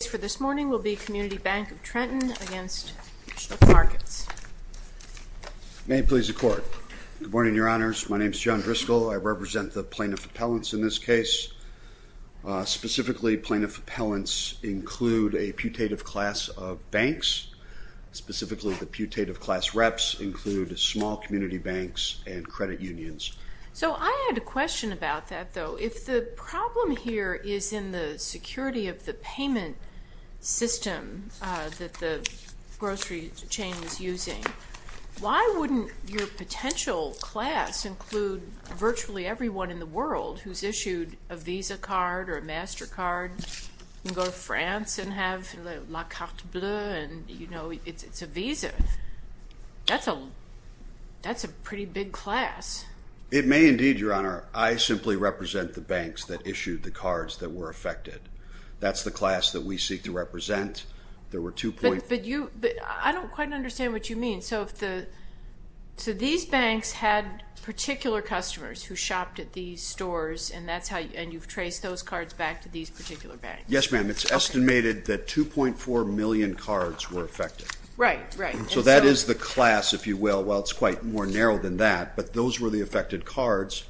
The case for this morning will be Community Bank of Trenton v. Schnuck Markets. May it please the Court. Good morning, Your Honors. My name is John Driscoll. I represent the Plaintiff Appellants in this case. Specifically, Plaintiff Appellants include a putative class of banks. Specifically, the putative class reps include small community banks and credit unions. So I had a question about that, though. If the problem here is in the security of the payment system that the grocery chain is using, why wouldn't your potential class include virtually everyone in the world who's issued a Visa card or a MasterCard and go to France and have la carte bleue and, you know, it's a Visa? That's a pretty big class. It may indeed, Your Honor. I simply represent the banks that issued the cards that were affected. That's the class that we seek to represent. I don't quite understand what you mean. So these banks had particular customers who shopped at these stores and you've traced those cards back to these particular banks? Yes, ma'am. It's estimated that 2.4 million cards were affected. Right, right. So that is the class, if you will. Well, it's quite more narrow than that, but those were the affected cards.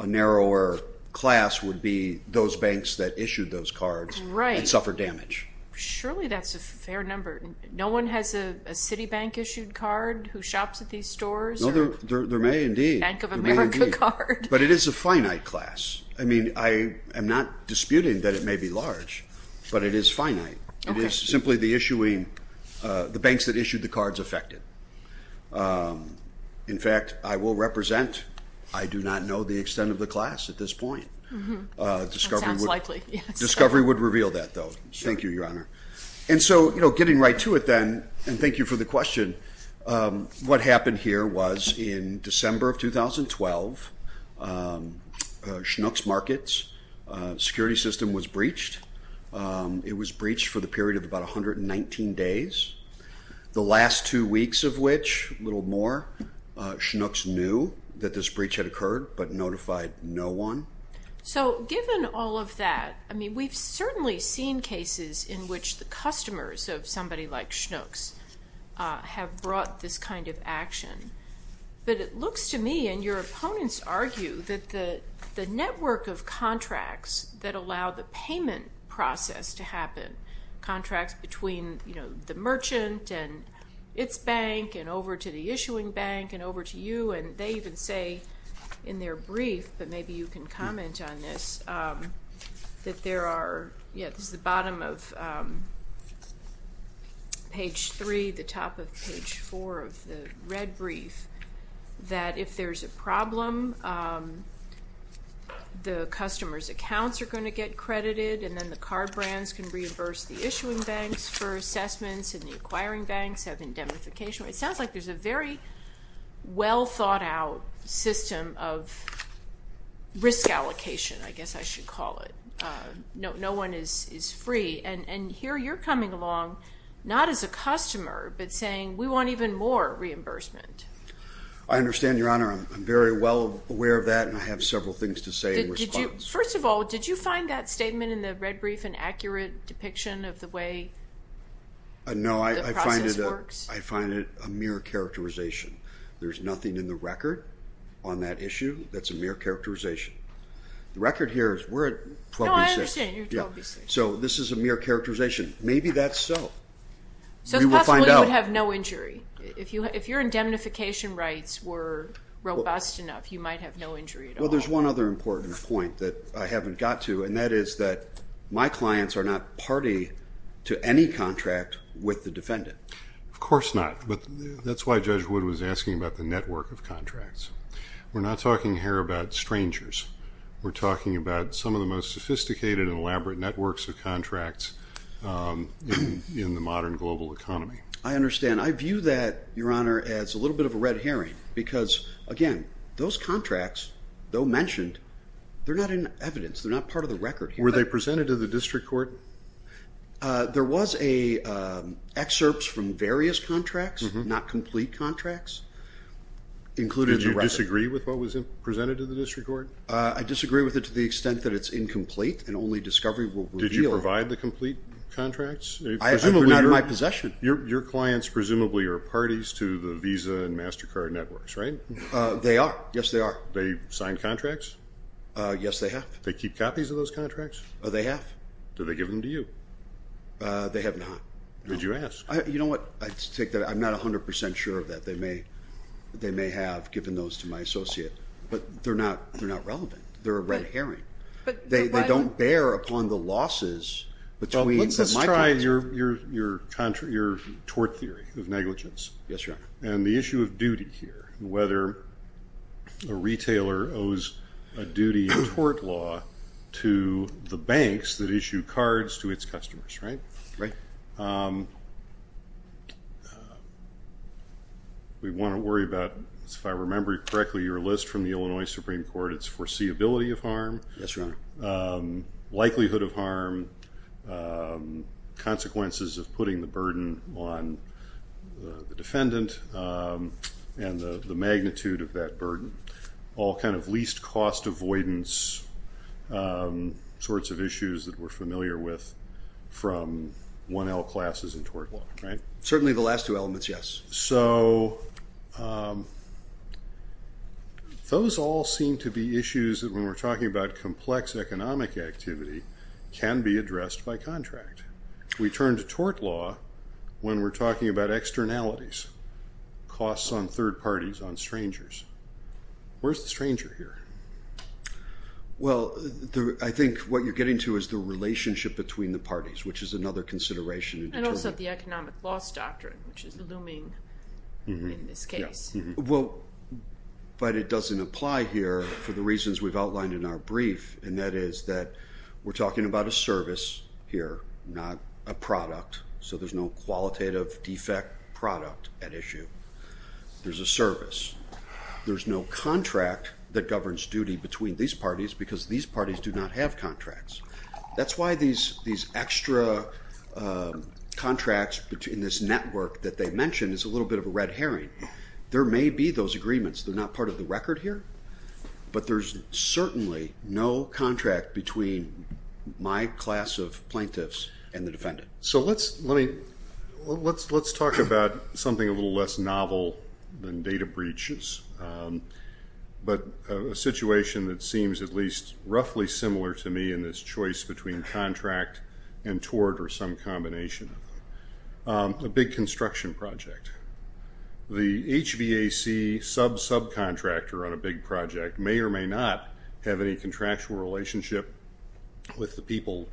A narrower class would be those banks that issued those cards and suffered damage. Surely that's a fair number. No one has a Citibank-issued card who shops at these stores? No, there may indeed, but it is a finite class. I mean, I am not disputing that it may be large, but it is finite. It is simply the issuing, the banks that issued the cards affected. In fact, I will represent, I do not know the extent of the class at this point. Discovery would reveal that, though. Thank you, Your Honor. And so, you know, getting right to it then, and thank you for the question. What happened here was in December of 2012, Schnucks Markets security system was breached. It was breached for the period of about 119 days. The last two weeks of which, a little more, Schnucks knew that this breach had occurred, but notified no one. So given all of that, I mean, we've certainly seen cases in which the customers of somebody like Schnucks have brought this kind of action. But it looks to me, and your opponents argue, that the network of contracts that allow the payment process to happen, contracts between, you know, the merchant and its bank and over to the issuing bank and over to you, and they even say in their brief, but maybe you can comment on this, that there are, yeah, this is the bottom of page three, the top of page four of the red brief, that if there's a problem, the customer's accounts are going to get credited, and then the card brands can reimburse the issuing banks for assessments, and the acquiring banks have indemnification. It sounds like there's a very well-thought-out system of risk allocation, I guess I should call it. No one is free. And here you're coming along, not as a customer, but saying we want even more reimbursement. I understand, Your Honor. I'm very well aware of that, and I have several things to say in response. First of all, did you find that statement in the red brief an accurate depiction of the way the process works? I find it a mere characterization. There's nothing in the record on that issue that's a mere characterization. The record here is we're at 12B6. No, I understand, you're 12B6. So this is a mere characterization. Maybe that's so. So possibly you would have no injury. If your indemnification rights were robust enough, you might have no injury at all. Well, there's one other important point that I haven't got to, and that is that my clients are not party to any contract with the defendant. Of course not. But that's why Judge Wood was asking about the network of contracts. We're not talking here about strangers. We're talking about some of the most sophisticated and elaborate networks of contracts in the modern global economy. I understand. I view that, Your Honor, as a little bit of a red herring because, again, those contracts, though mentioned, they're not in evidence. They're not part of the record here. Were they presented to the district court? There was excerpts from various contracts, not complete contracts, included in the record. Did you disagree with what was presented to the district court? I disagree with it to the extent that it's incomplete and only discovery will reveal. Did you provide the complete contracts? Presumably not in my possession. Your clients presumably are parties to the Visa and MasterCard networks, right? They are. Yes, they are. Yes, they have. Do they keep copies of those contracts? They have. Do they give them to you? They have not. Did you ask? You know what? I'm not 100 percent sure of that. They may have given those to my associate, but they're not relevant. They're a red herring. They don't bear upon the losses between my clients. Well, let's just try your tort theory of negligence. Yes, Your Honor. And the issue of duty here, whether a retailer owes a duty in tort law to the banks that issue cards to its customers, right? Right. We want to worry about, if I remember correctly, your list from the Illinois Supreme Court. Yes, Your Honor. Likelihood of harm, consequences of putting the burden on the defendant, and the magnitude of that burden, all kind of least cost avoidance sorts of issues that we're familiar with from 1L classes in tort law, right? Certainly the last two elements, yes. So those all seem to be issues that, when we're talking about complex economic activity, can be addressed by contract. We turn to tort law when we're talking about externalities, costs on third parties, on strangers. Where's the stranger here? Well, I think what you're getting to is the relationship between the parties, which is another consideration. And also the economic loss doctrine, which is looming in this case. Well, but it doesn't apply here for the reasons we've outlined in our brief. And that is that we're talking about a service here, not a product. So there's no qualitative defect product at issue. There's a service. There's no contract that governs duty between these parties, because these parties do not have contracts. That's why these extra contracts in this network that they mentioned is a little bit of a red herring. There may be those agreements. They're not part of the record here. But there's certainly no contract between my class of plaintiffs and the defendant. So let's talk about something a little less novel than data breaches, but a situation that seems at least roughly similar to me in this choice between contract and tort or some combination. A big construction project. The HVAC sub-subcontractor on a big project may or may not have any contractual relationship with the people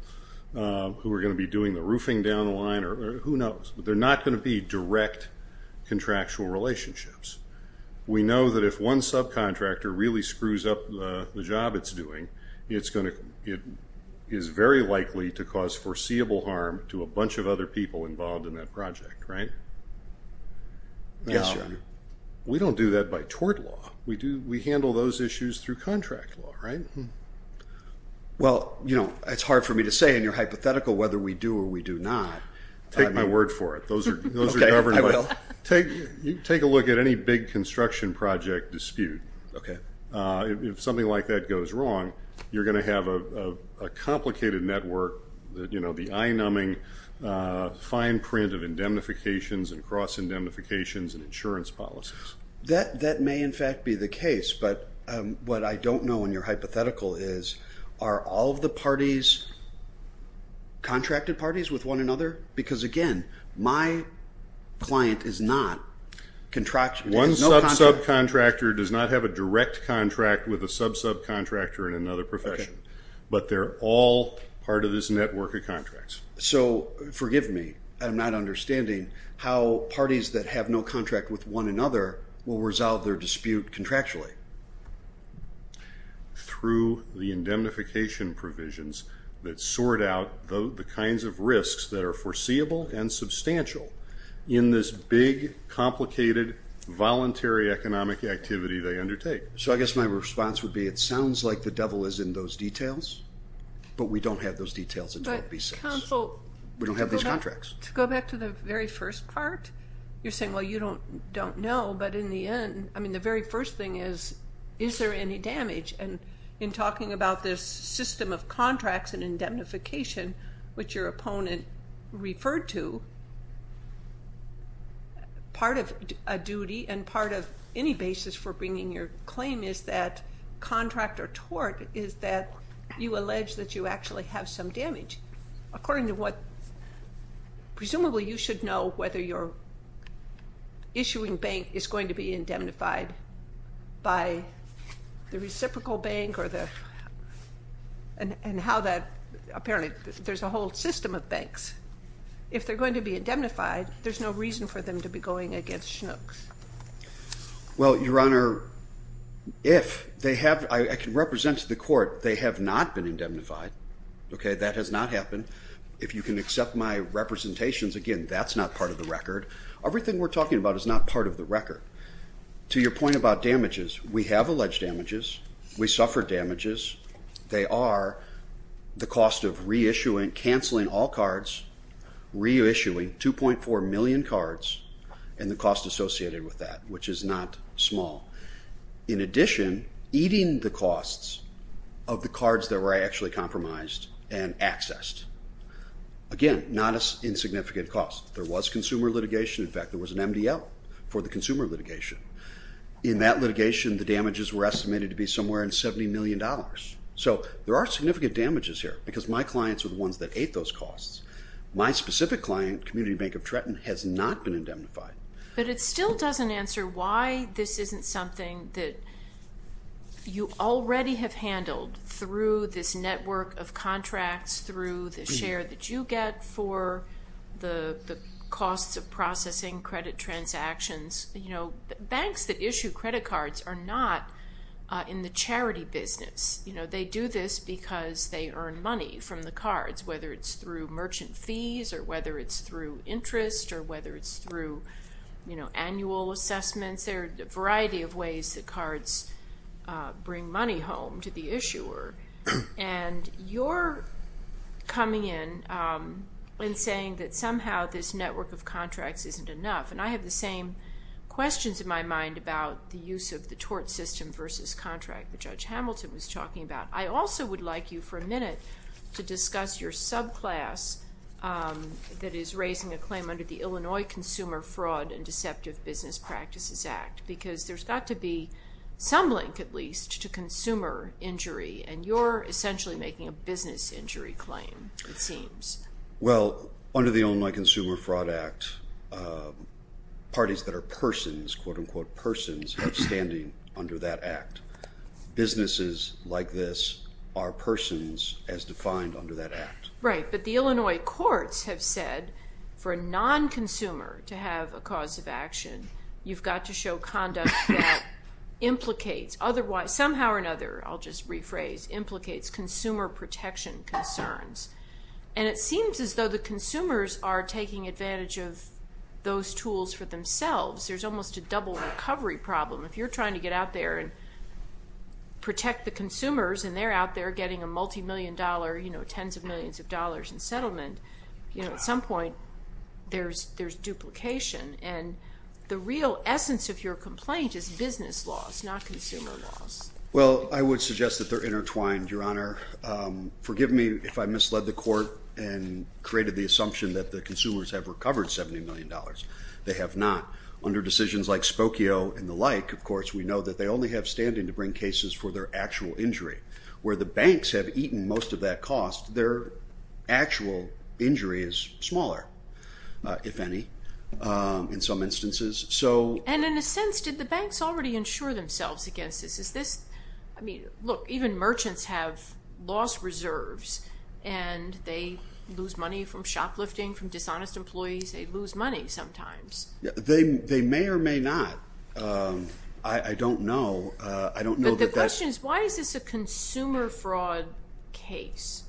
who are going to be doing the roofing down the line or who knows. But they're not going to be direct contractual relationships. We know that if one sub-contractor really screws up the job it's doing, it is very likely to cause foreseeable harm to a bunch of other people involved in that project, right? Yes, Your Honor. We don't do that by tort law. We handle those issues through contract law, right? Well, you know, it's hard for me to say in your hypothetical whether we do or we do not. Take my word for it. Those are governed by... Okay, I will. Take a look at any big construction project dispute. Okay. If something like that goes wrong, you're going to have a complicated network, you know, the eye-numbing fine print of indemnifications and cross-indemnifications and insurance policies. That may in fact be the case, but what I don't know in your hypothetical is, are all of the parties contracted parties with one another? Because, again, my client is not contracted. One sub-subcontractor does not have a direct contract with a sub-subcontractor in another profession, but they're all part of this network of contracts. So forgive me, I'm not understanding how parties that have no contract with one another will resolve their dispute contractually. Through the indemnification provisions that sort out the kinds of risks that are foreseeable and substantial in this big, complicated, voluntary economic activity they undertake. So I guess my response would be it sounds like the devil is in those details, but we don't have those details in 12b-6. But counsel... We don't have these contracts. To go back to the very first part, you're saying, well, you don't know, but in the end, I mean, the very first thing is, is there any damage? And in talking about this system of contracts and indemnification, which your opponent referred to, part of a duty and part of any basis for bringing your claim is that contract or tort is that you allege that you actually have some damage. According to what presumably you should know whether your issuing bank is going to be indemnified by the reciprocal bank or the... and how that apparently there's a whole system of banks. If they're going to be indemnified, there's no reason for them to be going against Chinooks. Well, Your Honor, if they have... I can represent to the court they have not been indemnified. Okay, that has not happened. If you can accept my representations, again, that's not part of the record. Everything we're talking about is not part of the record. To your point about damages, we have alleged damages. We suffer damages. They are the cost of reissuing, canceling all cards, reissuing 2.4 million cards and the cost associated with that, which is not small. In addition, eating the costs of the cards that were actually compromised and accessed. Again, not insignificant costs. There was consumer litigation. In fact, there was an MDL for the consumer litigation. In that litigation, the damages were estimated to be somewhere in $70 million. So there are significant damages here because my clients are the ones that ate those costs. My specific client, Community Bank of Tretton, has not been indemnified. But it still doesn't answer why this isn't something that you already have handled through this network of contracts, through the share that you get for the costs of processing credit transactions. Banks that issue credit cards are not in the charity business. They do this because they earn money from the cards, whether it's through merchant fees or whether it's through interest or whether it's through annual assessments. There are a variety of ways that cards bring money home to the issuer. And you're coming in and saying that somehow this network of contracts isn't enough. And I have the same questions in my mind about the use of the tort system versus contract that Judge Hamilton was talking about. I also would like you for a minute to discuss your subclass that is raising a claim under the Illinois Consumer Fraud and Deceptive Business Practices Act because there's got to be some link, at least, to consumer injury. And you're essentially making a business injury claim, it seems. Well, under the Illinois Consumer Fraud Act, parties that are persons, quote-unquote persons, are standing under that act. Businesses like this are persons as defined under that act. Right, but the Illinois courts have said for a non-consumer to have a cause of action, you've got to show conduct that implicates otherwise. Somehow or another, I'll just rephrase, implicates consumer protection concerns. And it seems as though the consumers are taking advantage of those tools for themselves. There's almost a double recovery problem. If you're trying to get out there and protect the consumers and they're out there getting a multi-million dollar, you know, tens of millions of dollars in settlement, you know, at some point there's duplication. And the real essence of your complaint is business loss, not consumer loss. Well, I would suggest that they're intertwined, Your Honor. Forgive me if I misled the court and created the assumption that the consumers have recovered $70 million. They have not. Under decisions like Spokio and the like, of course, we know that they only have standing to bring cases for their actual injury. Where the banks have eaten most of that cost, their actual injury is smaller, if any, in some instances. And in a sense, did the banks already insure themselves against this? I mean, look, even merchants have lost reserves and they lose money from shoplifting, from dishonest employees. They lose money sometimes. They may or may not. I don't know. But the question is, why is this a consumer fraud case?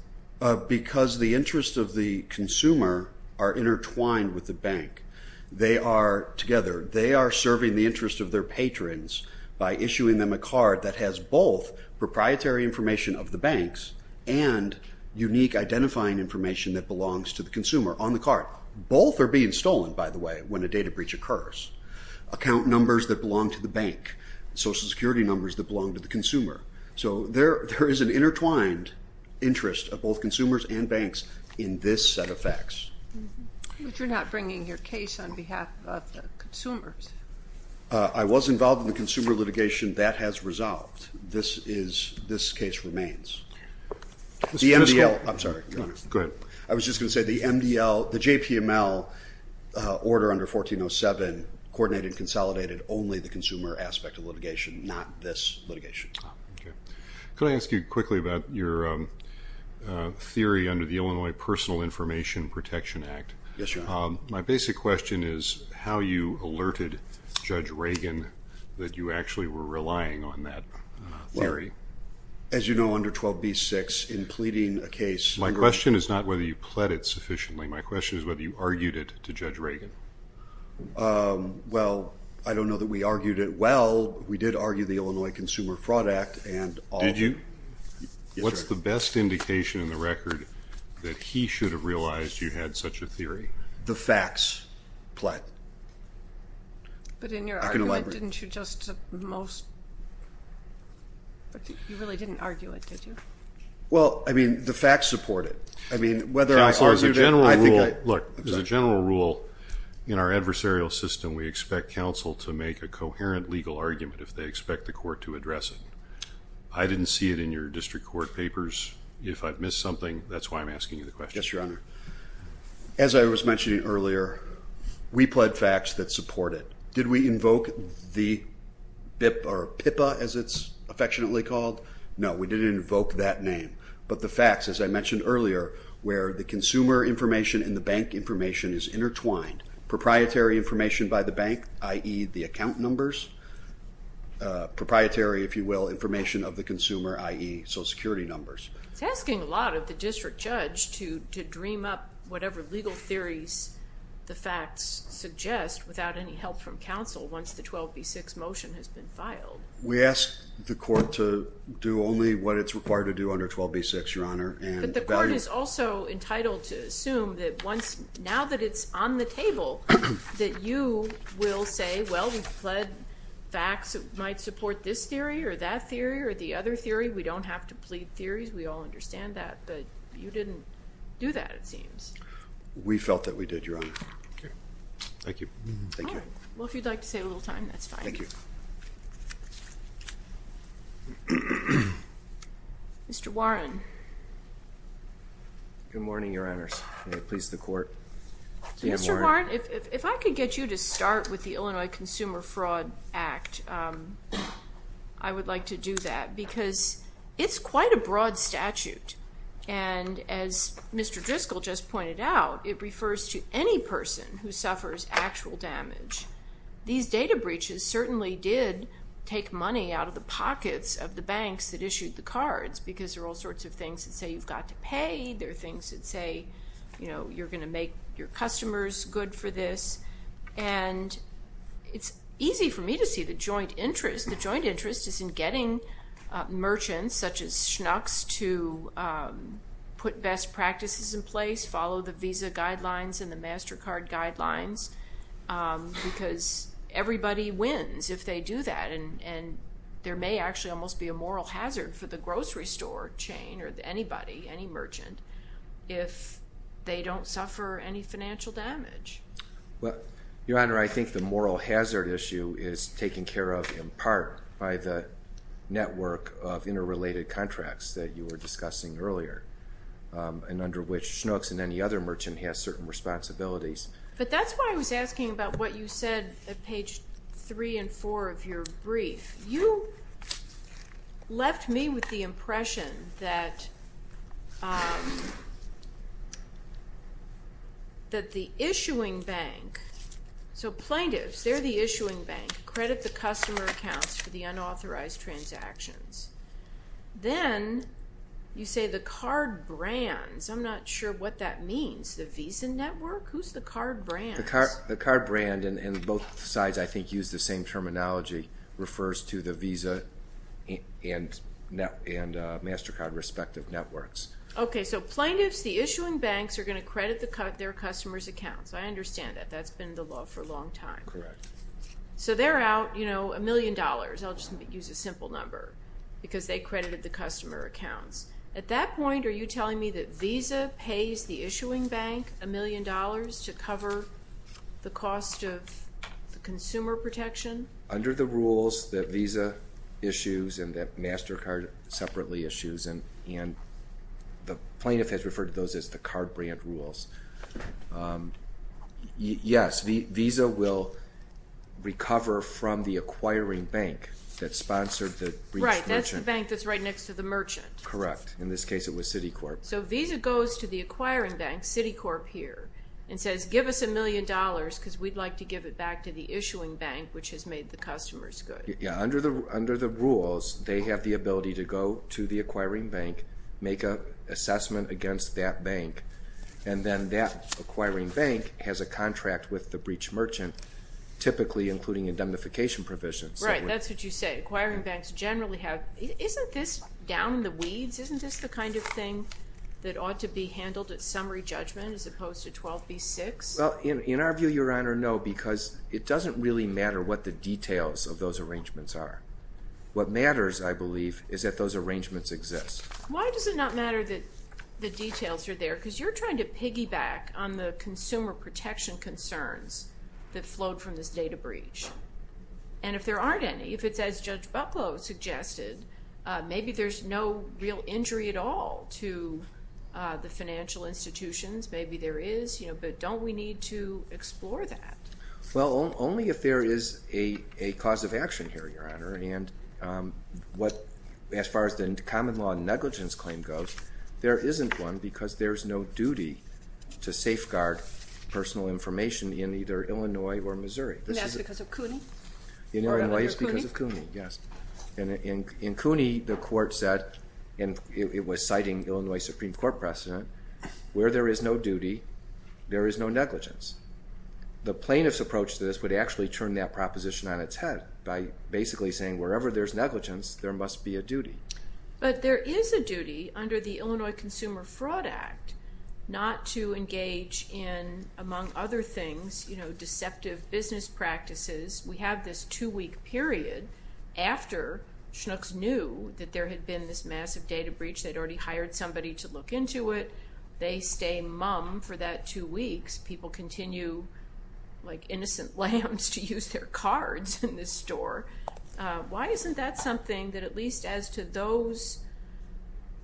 Because the interests of the consumer are intertwined with the bank. They are together. They are serving the interests of their patrons by issuing them a card that has both proprietary information of the banks and unique identifying information that belongs to the consumer on the card. Both are being stolen, by the way, when a data breach occurs. Account numbers that belong to the bank, Social Security numbers that belong to the consumer. So there is an intertwined interest of both consumers and banks in this set of facts. But you're not bringing your case on behalf of the consumers. I was involved in the consumer litigation. That has resolved. This case remains. The MDL. I'm sorry, Your Honor. Go ahead. I was just going to say the MDL, the JPML order under 1407, coordinated and consolidated only the consumer aspect of litigation, not this litigation. Okay. Could I ask you quickly about your theory under the Illinois Personal Information Protection Act? Yes, Your Honor. My basic question is how you alerted Judge Reagan that you actually were relying on that theory. As you know, under 12b-6, in pleading a case. My question is not whether you pled it sufficiently. My question is whether you argued it to Judge Reagan. Well, I don't know that we argued it well. We did argue the Illinois Consumer Fraud Act and all. Did you? Yes, Your Honor. What's the best indication in the record that he should have realized you had such a theory? The facts, Platt. But in your argument, didn't you just most, you really didn't argue it, did you? Well, I mean, the facts support it. Counsel, as a general rule, look, as a general rule, in our adversarial system, we expect counsel to make a coherent legal argument if they expect the court to address it. I didn't see it in your district court papers. If I've missed something, that's why I'm asking you the question. Yes, Your Honor. As I was mentioning earlier, we pled facts that support it. Did we invoke the BIP or PIPA, as it's affectionately called? No, we didn't invoke that name. But the facts, as I mentioned earlier, where the consumer information and the bank information is intertwined, proprietary information by the bank, i.e. the account numbers, proprietary, if you will, information of the consumer, i.e. Social Security numbers. It's asking a lot of the district judge to dream up whatever legal theories the facts suggest without any help from counsel once the 12B6 motion has been filed. We ask the court to do only what it's required to do under 12B6, Your Honor. But the court is also entitled to assume that once, now that it's on the table, that you will say, well, we've pled facts that might support this theory or that theory or the other theory. We don't have to plead theories. We all understand that. But you didn't do that, it seems. We felt that we did, Your Honor. Thank you. Well, if you'd like to save a little time, that's fine. Thank you. Mr. Warren. Good morning, Your Honors. May it please the court. Mr. Warren, if I could get you to start with the Illinois Consumer Fraud Act, I would like to do that because it's quite a broad statute. And as Mr. Driscoll just pointed out, it refers to any person who suffers actual damage. These data breaches certainly did take money out of the pockets of the banks that issued the cards because there are all sorts of things that say you've got to pay. There are things that say, you know, you're going to make your customers good for this. And it's easy for me to see the joint interest. The joint interest is in getting merchants such as Schnucks to put best practices in place, follow the visa guidelines and the MasterCard guidelines because everybody wins if they do that. And there may actually almost be a moral hazard for the grocery store chain or anybody, any merchant, if they don't suffer any financial damage. Well, Your Honor, I think the moral hazard issue is taken care of in part by the network of interrelated contracts that you were discussing earlier and under which Schnucks and any other merchant has certain responsibilities. But that's why I was asking about what you said at page 3 and 4 of your brief. You left me with the impression that the issuing bank, so plaintiffs, they're the issuing bank, credit the customer accounts for the unauthorized transactions. Then you say the card brands. I'm not sure what that means. The Visa Network? Who's the card brands? The card brand, and both sides I think use the same terminology, refers to the Visa and MasterCard respective networks. Okay, so plaintiffs, the issuing banks, are going to credit their customers' accounts. I understand that. That's been the law for a long time. Correct. So they're out, you know, a million dollars. Sometimes I'll just use a simple number because they credited the customer accounts. At that point, are you telling me that Visa pays the issuing bank a million dollars to cover the cost of the consumer protection? Under the rules that Visa issues and that MasterCard separately issues, and the plaintiff has referred to those as the card brand rules, yes, Visa will recover from the acquiring bank that sponsored the breach merchant. Right, that's the bank that's right next to the merchant. Correct. In this case, it was Citicorp. So Visa goes to the acquiring bank, Citicorp here, and says, give us a million dollars because we'd like to give it back to the issuing bank, which has made the customers good. Yeah, under the rules, they have the ability to go to the acquiring bank, make an assessment against that bank, and then that acquiring bank has a contract with the breach merchant, typically including indemnification provisions. Right, that's what you say. Acquiring banks generally have. Isn't this down in the weeds? Isn't this the kind of thing that ought to be handled at summary judgment as opposed to 12B6? Well, in our view, Your Honor, no, because it doesn't really matter what the details of those arrangements are. What matters, I believe, is that those arrangements exist. Why does it not matter that the details are there? Because you're trying to piggyback on the consumer protection concerns that flowed from this data breach. And if there aren't any, if it's as Judge Bucklow suggested, maybe there's no real injury at all to the financial institutions. Maybe there is, but don't we need to explore that? Well, only if there is a cause of action here, Your Honor, and as far as the common law negligence claim goes, there isn't one because there's no duty to safeguard personal information in either Illinois or Missouri. And that's because of CUNY? In Illinois, it's because of CUNY, yes. In CUNY, the court said, and it was citing Illinois Supreme Court precedent, where there is no duty, there is no negligence. The plaintiff's approach to this would actually turn that proposition on its head by basically saying wherever there's negligence, there must be a duty. But there is a duty under the Illinois Consumer Fraud Act not to engage in, among other things, deceptive business practices. We have this two-week period after Schnucks knew that there had been this massive data breach. They'd already hired somebody to look into it. They stay mum for that two weeks. People continue like innocent lambs to use their cards in this store. Why isn't that something that at least as to those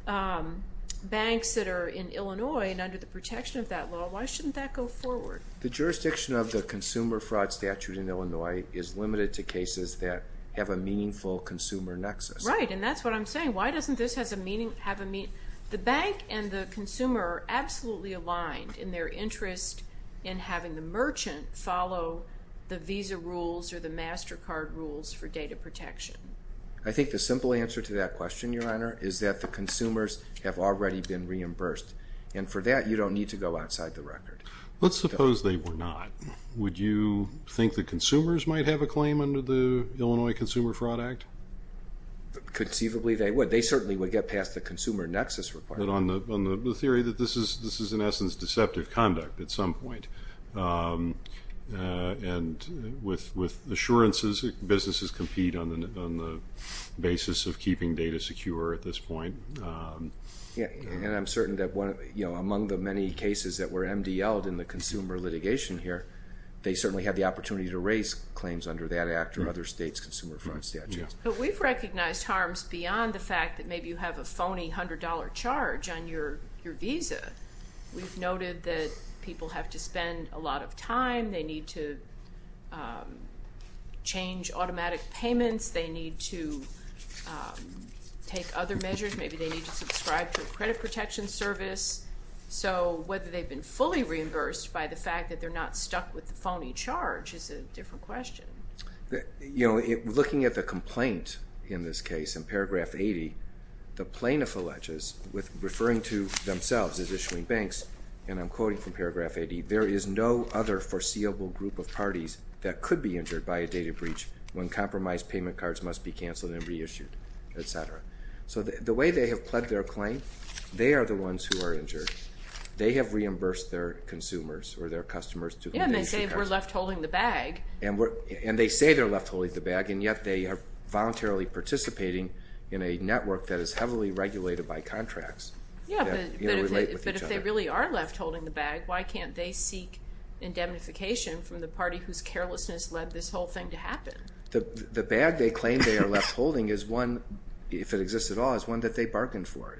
banks that are in Illinois and under the protection of that law, why shouldn't that go forward? The jurisdiction of the consumer fraud statute in Illinois is limited to cases that have a meaningful consumer nexus. Right, and that's what I'm saying. Why doesn't this have a meaning? The bank and the consumer are absolutely aligned in their interest in having the merchant follow the visa rules or the MasterCard rules for data protection. I think the simple answer to that question, Your Honor, is that the consumers have already been reimbursed. And for that, you don't need to go outside the record. Let's suppose they were not. Would you think the consumers might have a claim under the Illinois Consumer Fraud Act? Conceivably, they would. But they certainly would get past the consumer nexus requirement. But on the theory that this is, in essence, deceptive conduct at some point, and with assurances that businesses compete on the basis of keeping data secure at this point. And I'm certain that among the many cases that were MDL'd in the consumer litigation here, they certainly had the opportunity to raise claims under that act or other states' consumer fraud statutes. But we've recognized harms beyond the fact that maybe you have a phony $100 charge on your visa. We've noted that people have to spend a lot of time. They need to change automatic payments. They need to take other measures. Maybe they need to subscribe to a credit protection service. So whether they've been fully reimbursed by the fact that they're not stuck with the phony charge is a different question. Looking at the complaint in this case in paragraph 80, the plaintiff alleges with referring to themselves as issuing banks, and I'm quoting from paragraph 80, there is no other foreseeable group of parties that could be injured by a data breach when compromised payment cards must be canceled and reissued, et cetera. So the way they have pledged their claim, they are the ones who are injured. They have reimbursed their consumers or their customers. Yeah, and they say we're left holding the bag. And they say they're left holding the bag, and yet they are voluntarily participating in a network that is heavily regulated by contracts that relate with each other. Yeah, but if they really are left holding the bag, why can't they seek indemnification from the party whose carelessness led this whole thing to happen? The bag they claim they are left holding is one, if it exists at all, is one that they bargained for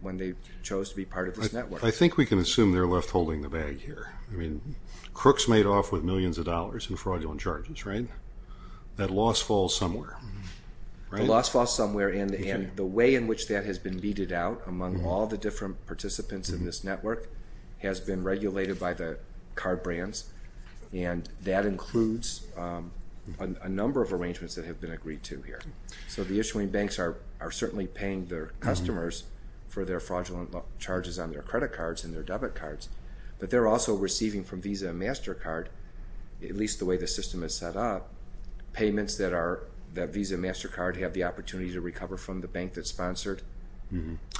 when they chose to be part of this network. I think we can assume they're left holding the bag here. Crooks made off with millions of dollars in fraudulent charges, right? That loss falls somewhere. The loss falls somewhere, and the way in which that has been weeded out among all the different participants in this network has been regulated by the card brands, and that includes a number of arrangements that have been agreed to here. So the issuing banks are certainly paying their customers for their fraudulent charges on their credit cards and their debit cards, but they're also receiving from Visa and MasterCard, at least the way the system is set up, payments that Visa and MasterCard have the opportunity to recover from the bank that sponsored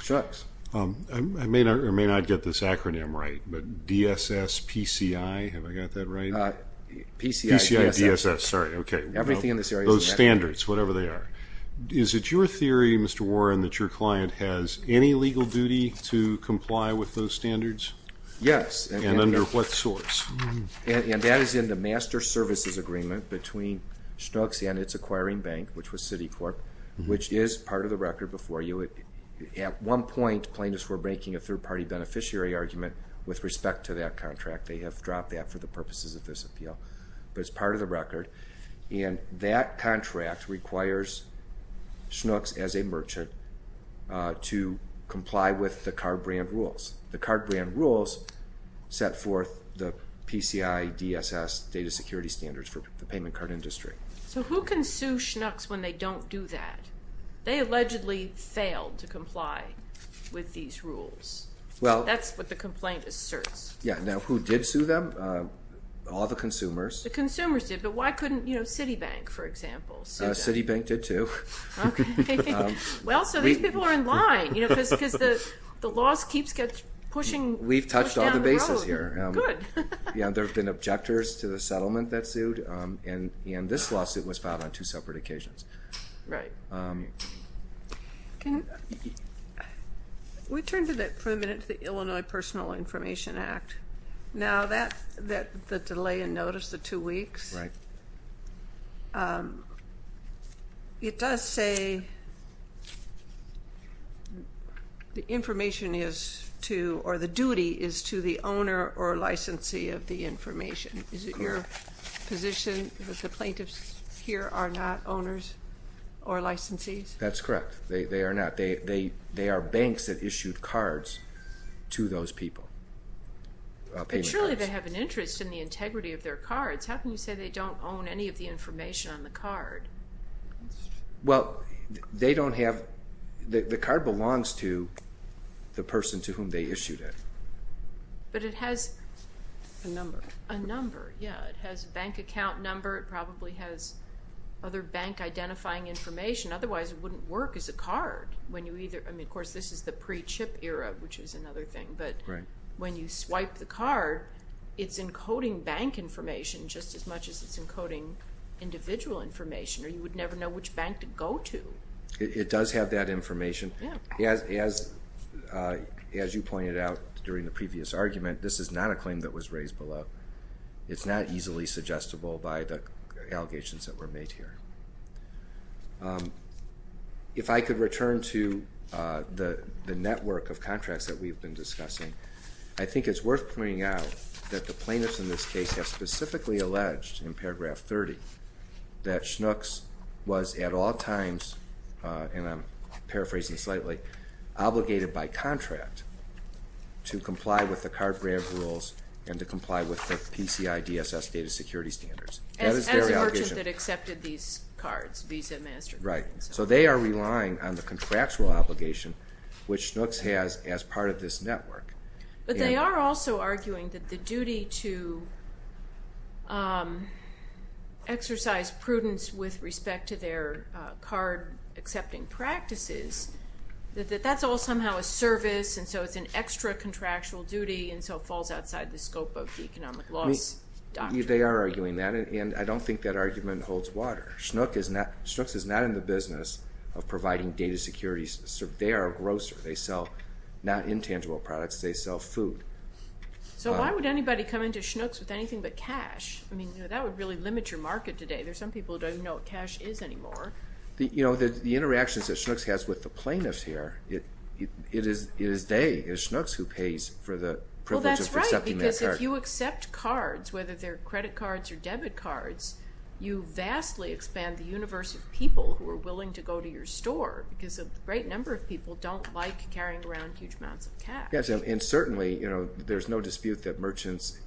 Shooks. I may not get this acronym right, but DSS, PCI, have I got that right? PCI, DSS. PCI, DSS, sorry, okay. Everything in this area is in that area. Those standards, whatever they are. Is it your theory, Mr. Warren, that your client has any legal duty to comply with those standards? Yes. And under what source? And that is in the master services agreement between Shooks and its acquiring bank, which was Citicorp, which is part of the record before you. At one point plaintiffs were making a third-party beneficiary argument with respect to that contract. They have dropped that for the purposes of this appeal, but it's part of the record. And that contract requires Shooks, as a merchant, to comply with the card brand rules. The card brand rules set forth the PCI, DSS data security standards for the payment card industry. So who can sue Shooks when they don't do that? They allegedly failed to comply with these rules. That's what the complaint asserts. Yes. Now, who did sue them? All the consumers. The consumers did. But why couldn't Citibank, for example, sue them? Citibank did too. Okay. Well, so these people are in line because the law keeps pushing down the road. We've touched all the bases here. Good. There have been objectors to the settlement that sued, and this lawsuit was filed on two separate occasions. Right. Can we turn for a minute to the Illinois Personal Information Act? Now, the delay in notice, the two weeks, it does say the information is to or the duty is to the owner or licensee of the information. Is it your position that the plaintiffs here are not owners or licensees? That's correct. They are not. They are banks that issued cards to those people. But surely they have an interest in the integrity of their cards. How can you say they don't own any of the information on the card? Well, they don't have the card belongs to the person to whom they issued it. But it has a number. A number, yeah. It has a bank account number. It probably has other bank identifying information. Otherwise, it wouldn't work as a card. I mean, of course, this is the pre-chip era, which is another thing. Right. But when you swipe the card, it's encoding bank information just as much as it's encoding individual information, or you would never know which bank to go to. It does have that information. Yeah. As you pointed out during the previous argument, this is not a claim that was raised below. It's not easily suggestible by the allegations that were made here. If I could return to the network of contracts that we've been discussing, I think it's worth pointing out that the plaintiffs in this case have specifically alleged in paragraph 30 that Schnucks was at all times, and I'm paraphrasing slightly, obligated by contract to comply with the card grant rules and to comply with the PCI DSS data security standards. As the merchant that accepted these cards, Visa, MasterCard. Right. So they are relying on the contractual obligation, which Schnucks has as part of this network. But they are also arguing that the duty to exercise prudence with respect to their card-accepting practices, that that's all somehow a service, and so it's an extra contractual duty, and so it falls outside the scope of the economic loss doctrine. They are arguing that, and I don't think that argument holds water. Schnucks is not in the business of providing data security. They are a grocer. They sell not intangible products. They sell food. So why would anybody come into Schnucks with anything but cash? I mean, that would really limit your market today. There are some people who don't even know what cash is anymore. You know, the interactions that Schnucks has with the plaintiffs here, it is they, it is Schnucks who pays for the privilege of accepting their card. Well, that's right, because if you accept cards, whether they're credit cards or debit cards, you vastly expand the universe of people who are willing to go to your store because a great number of people don't like carrying around huge amounts of cash. Yes, and certainly, you know, there's no dispute that merchants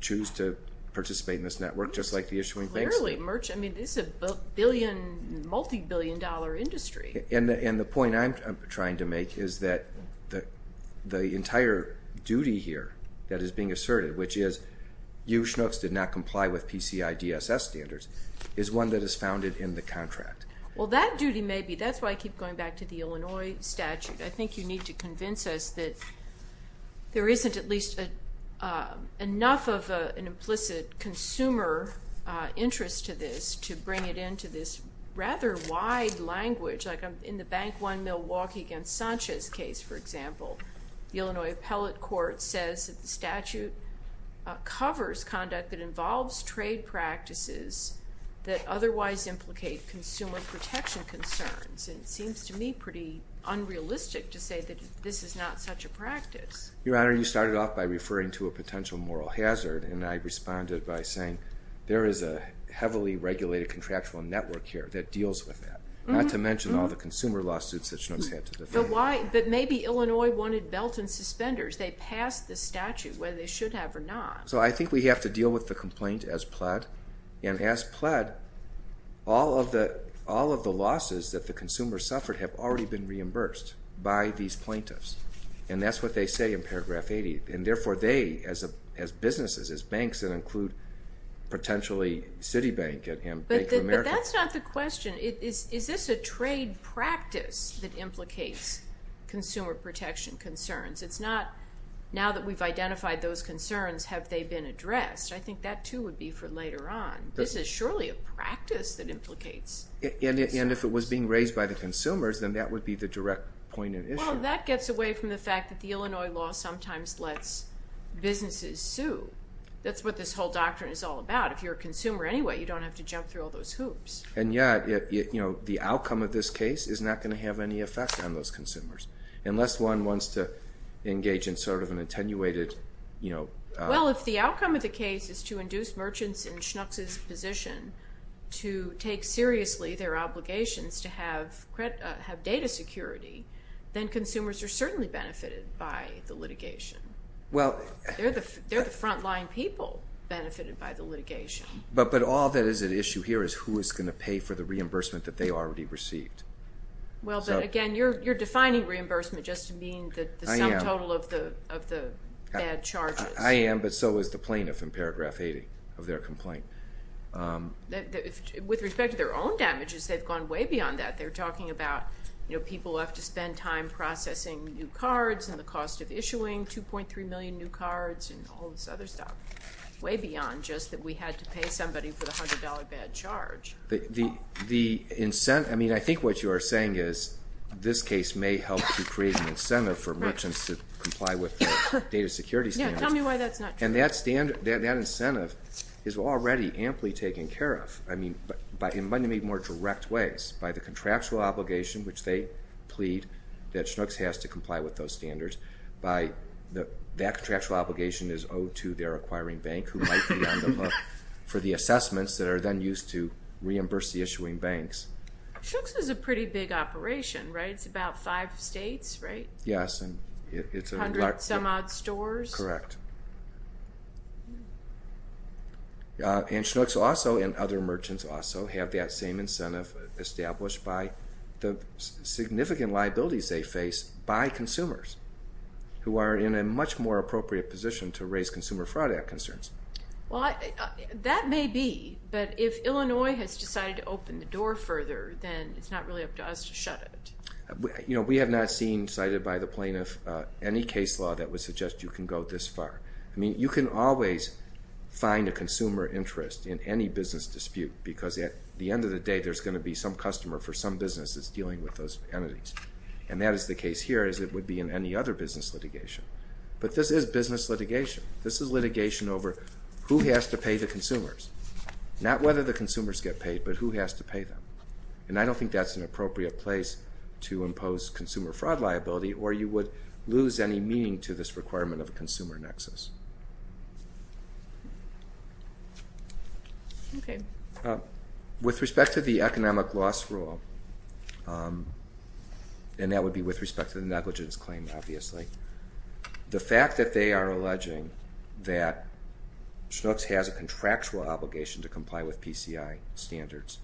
choose to participate in this network just like the issuing banks do. I mean, this is a multi-billion dollar industry. And the point I'm trying to make is that the entire duty here that is being asserted, which is you, Schnucks, did not comply with PCI DSS standards, is one that is founded in the contract. Well, that duty may be. That's why I keep going back to the Illinois statute. I think you need to convince us that there isn't at least enough of an implicit consumer interest to this to bring it into this rather wide language. Like in the Bank One Milwaukee against Sanchez case, for example, the Illinois appellate court says that the statute covers conduct that involves trade practices that otherwise implicate consumer protection concerns. And it seems to me pretty unrealistic to say that this is not such a practice. Your Honor, you started off by referring to a potential moral hazard, and I responded by saying there is a heavily regulated contractual network here that deals with that, not to mention all the consumer lawsuits that Schnucks had to defend. But maybe Illinois wanted belt and suspenders. They passed the statute, whether they should have or not. So I think we have to deal with the complaint as pled. And as pled, all of the losses that the consumer suffered have already been reimbursed by these plaintiffs. And that's what they say in paragraph 80. And therefore they, as businesses, as banks that include potentially Citibank and Bank of America. But that's not the question. Is this a trade practice that implicates consumer protection concerns? It's not now that we've identified those concerns, have they been addressed? I think that, too, would be for later on. This is surely a practice that implicates. And if it was being raised by the consumers, then that would be the direct point of issue. That gets away from the fact that the Illinois law sometimes lets businesses sue. That's what this whole doctrine is all about. If you're a consumer anyway, you don't have to jump through all those hoops. And yet the outcome of this case is not going to have any effect on those consumers unless one wants to engage in sort of an attenuated. Well, if the outcome of the case is to induce merchants in Schnucks' position to take seriously their obligations to have data security, then consumers are certainly benefited by the litigation. They're the front-line people benefited by the litigation. But all that is at issue here is who is going to pay for the reimbursement that they already received. Well, but again, you're defining reimbursement just to mean the sum total of the bad charges. I am, but so is the plaintiff in Paragraph 80 of their complaint. With respect to their own damages, they've gone way beyond that. They're talking about people have to spend time processing new cards and the cost of issuing 2.3 million new cards and all this other stuff. Way beyond just that we had to pay somebody for the $100 bad charge. The incentive, I mean, I think what you are saying is this case may help to create an incentive for merchants to comply with their data security standards. Yeah, tell me why that's not true. And that incentive is already amply taken care of. I mean, but in many more direct ways, by the contractual obligation, which they plead that Chinooks has to comply with those standards, that contractual obligation is owed to their acquiring bank who might be on the hook for the assessments that are then used to reimburse the issuing banks. Chinooks is a pretty big operation, right? It's about five states, right? Yes, and it's a large... A hundred-some-odd stores? Correct. And Chinooks also and other merchants also have that same incentive established by the significant liabilities they face by consumers who are in a much more appropriate position to raise consumer fraud concerns. Well, that may be, but if Illinois has decided to open the door further, then it's not really up to us to shut it. You know, we have not seen, cited by the plaintiff, any case law that would suggest you can go this far. I mean, you can always find a consumer interest in any business dispute because at the end of the day there's going to be some customer for some business that's dealing with those entities. And that is the case here as it would be in any other business litigation. But this is business litigation. This is litigation over who has to pay the consumers, not whether the consumers get paid, but who has to pay them. And I don't think that's an appropriate place to impose consumer fraud liability or you would lose any meaning to this requirement of a consumer nexus. With respect to the economic loss rule, and that would be with respect to the negligence claim, obviously, the fact that they are alleging that Chinooks has a contractual obligation to comply with PCI standards,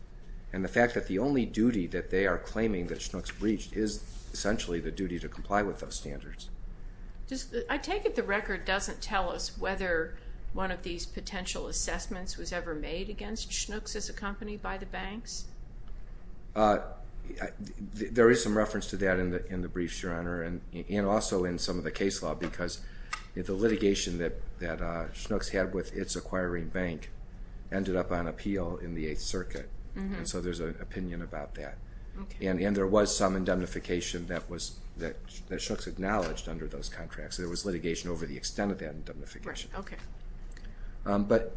and the fact that the only duty that they are claiming that Chinooks breached is essentially the duty to comply with those standards. I take it the record doesn't tell us whether one of these potential assessments was ever made against Chinooks as a company by the banks? There is some reference to that in the briefs, Your Honor, and also in some of the case law because the litigation that Chinooks had with its acquiring bank ended up on appeal in the Eighth Circuit, and so there's an opinion about that. And there was some indemnification that Chinooks acknowledged under those contracts. There was litigation over the extent of that indemnification. But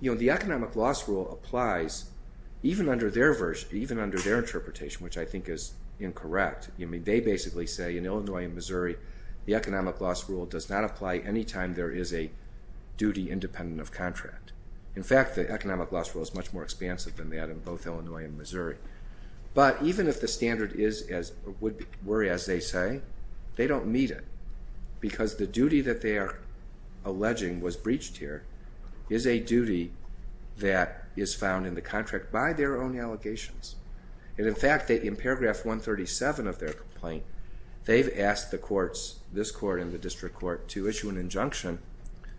the economic loss rule applies even under their interpretation, which I think is incorrect. They basically say in Illinois and Missouri, the economic loss rule does not apply any time there is a duty independent of contract. In fact, the economic loss rule is much more expansive than that in both Illinois and Missouri. But even if the standard were as they say, they don't meet it because the duty that they are alleging was breached here is a duty that is found in the contract by their own allegations. In fact, in paragraph 137 of their complaint, they've asked the courts, this court and the district court, to issue an injunction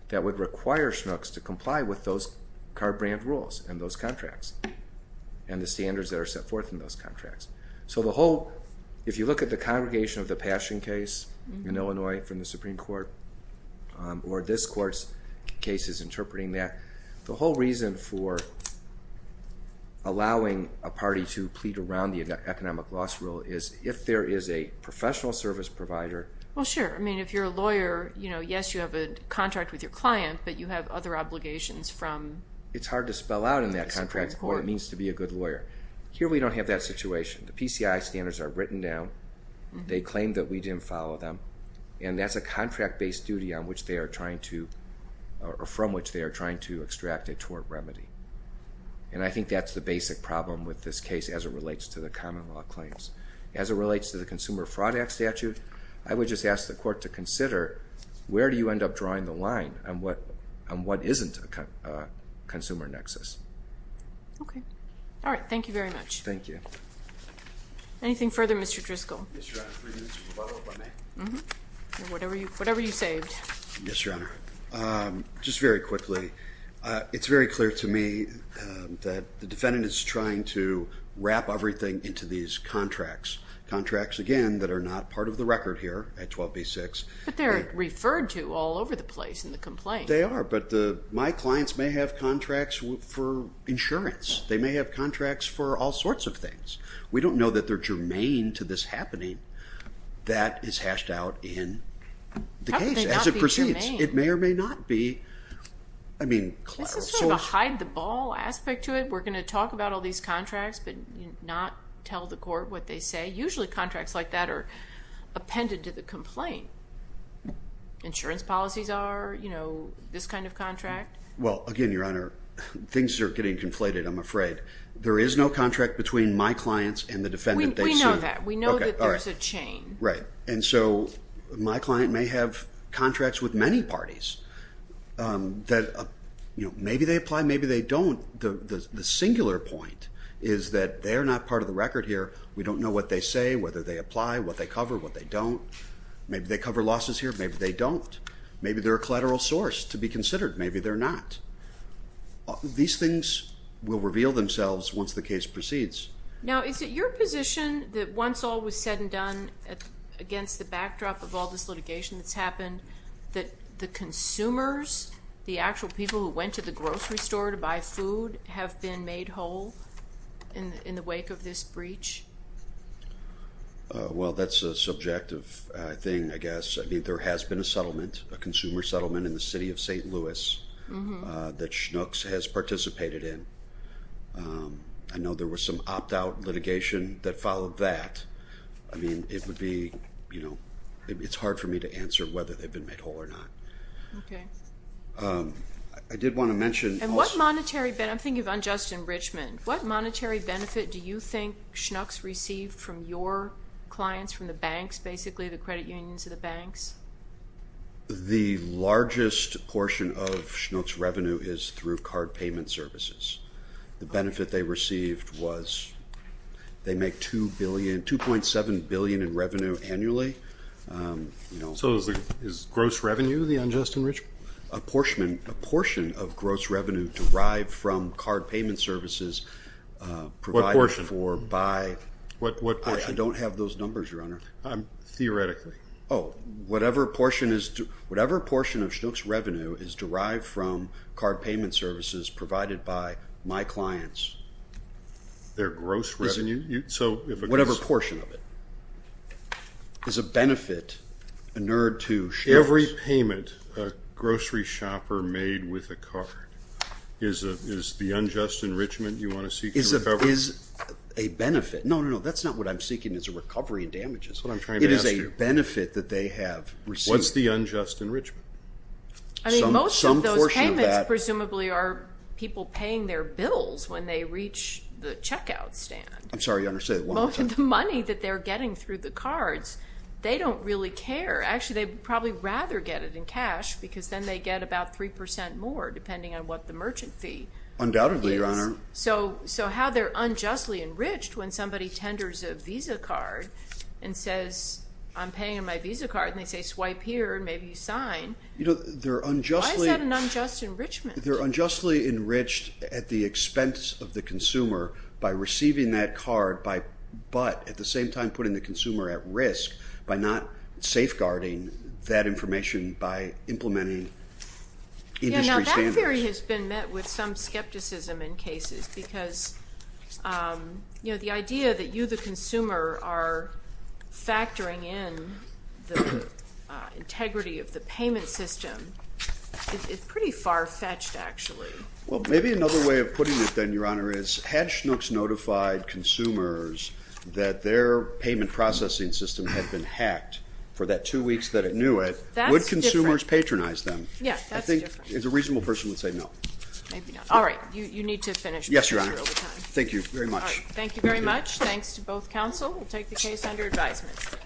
that would require Chinooks to comply with those car brand rules and those contracts and the standards that are set forth in those contracts. So the whole, if you look at the Congregation of the Passion case in Illinois from the Supreme Court, or this court's case is interpreting that, the whole reason for allowing a party to plead around the economic loss rule is if there is a professional service provider... Well, sure. I mean, if you're a lawyer, yes, you have a contract with your client, but you have other obligations from... It's hard to spell out in that contract what it means to be a good lawyer. Here we don't have that situation. The PCI standards are written down. They claim that we didn't follow them, and that's a contract-based duty from which they are trying to extract a tort remedy. And I think that's the basic problem with this case as it relates to the common law claims. As it relates to the Consumer Fraud Act statute, I would just ask the court to consider where do you end up drawing the line and what isn't a consumer nexus. Okay. All right. Thank you very much. Thank you. Anything further, Mr. Driscoll? Yes, Your Honor. Three minutes, if I may. Whatever you saved. Yes, Your Honor. Just very quickly, it's very clear to me that the defendant is trying to wrap everything into these contracts, contracts, again, that are not part of the record here at 12b-6. But they're referred to all over the place in the complaint. They are, but my clients may have contracts for insurance. They may have contracts for all sorts of things. We don't know that they're germane to this happening. That is hashed out in the case as it proceeds. How could they not be germane? It may or may not be. This is sort of a hide-the-ball aspect to it. We're going to talk about all these contracts but not tell the court what they say. Usually contracts like that are appended to the complaint. Insurance policies are, you know, this kind of contract. Well, again, Your Honor, things are getting conflated, I'm afraid. There is no contract between my clients and the defendant they see. We know that. We know that there's a chain. Right. And so my client may have contracts with many parties that, you know, maybe they apply, maybe they don't. The singular point is that they're not part of the record here. We don't know what they say, whether they apply, what they cover, what they don't. Maybe they cover losses here, maybe they don't. Maybe they're a collateral source to be considered. Maybe they're not. These things will reveal themselves once the case proceeds. Now, is it your position that once all was said and done against the backdrop of all this litigation that's happened, that the consumers, the actual people who went to the grocery store to buy food, have been made whole in the wake of this breach? Well, that's a subjective thing, I guess. I mean, there has been a settlement, a consumer settlement in the city of St. Louis that Schnucks has participated in. I know there was some opt-out litigation that followed that. I mean, it would be, you know, it's hard for me to answer whether they've been made whole or not. Okay. I did want to mention also— And what monetary benefit—I'm thinking of unjust enrichment. What monetary benefit do you think Schnucks received from your clients, from the banks, basically, the credit unions of the banks? The largest portion of Schnucks revenue is through card payment services. The benefit they received was they make $2.7 billion in revenue annually. So is gross revenue the unjust enrichment? A portion of gross revenue derived from card payment services provided for by— What portion? I don't have those numbers, Your Honor. Theoretically. Oh, whatever portion of Schnucks revenue is derived from card payment services provided by my clients— Their gross revenue? Whatever portion of it is a benefit inured to Schnucks. Every payment a grocery shopper made with a card is the unjust enrichment you want to seek to recover? Is a benefit—no, no, no, that's not what I'm seeking. It's a recovery in damages, what I'm trying to ask you. What is the benefit that they have received? What's the unjust enrichment? I mean, most of those payments presumably are people paying their bills when they reach the checkout stand. I'm sorry, Your Honor, say that one more time. The money that they're getting through the cards, they don't really care. Actually, they'd probably rather get it in cash because then they get about 3 percent more, depending on what the merchant fee is. Undoubtedly, Your Honor. So how they're unjustly enriched when somebody tenders a Visa card and says, I'm paying on my Visa card, and they say swipe here and maybe you sign. Why is that an unjust enrichment? They're unjustly enriched at the expense of the consumer by receiving that card, but at the same time putting the consumer at risk by not safeguarding that information by implementing industry standards. Newberry has been met with some skepticism in cases because, you know, the idea that you, the consumer, are factoring in the integrity of the payment system is pretty far-fetched, actually. Well, maybe another way of putting it then, Your Honor, is had Schnucks notified consumers that their payment processing system had been hacked for that two weeks that it knew it, would consumers patronize them? Yeah, that's different. A reasonable person would say no. All right. You need to finish. Yes, Your Honor. Thank you very much. Thank you very much. Thanks to both counsel. We'll take the case under advisement.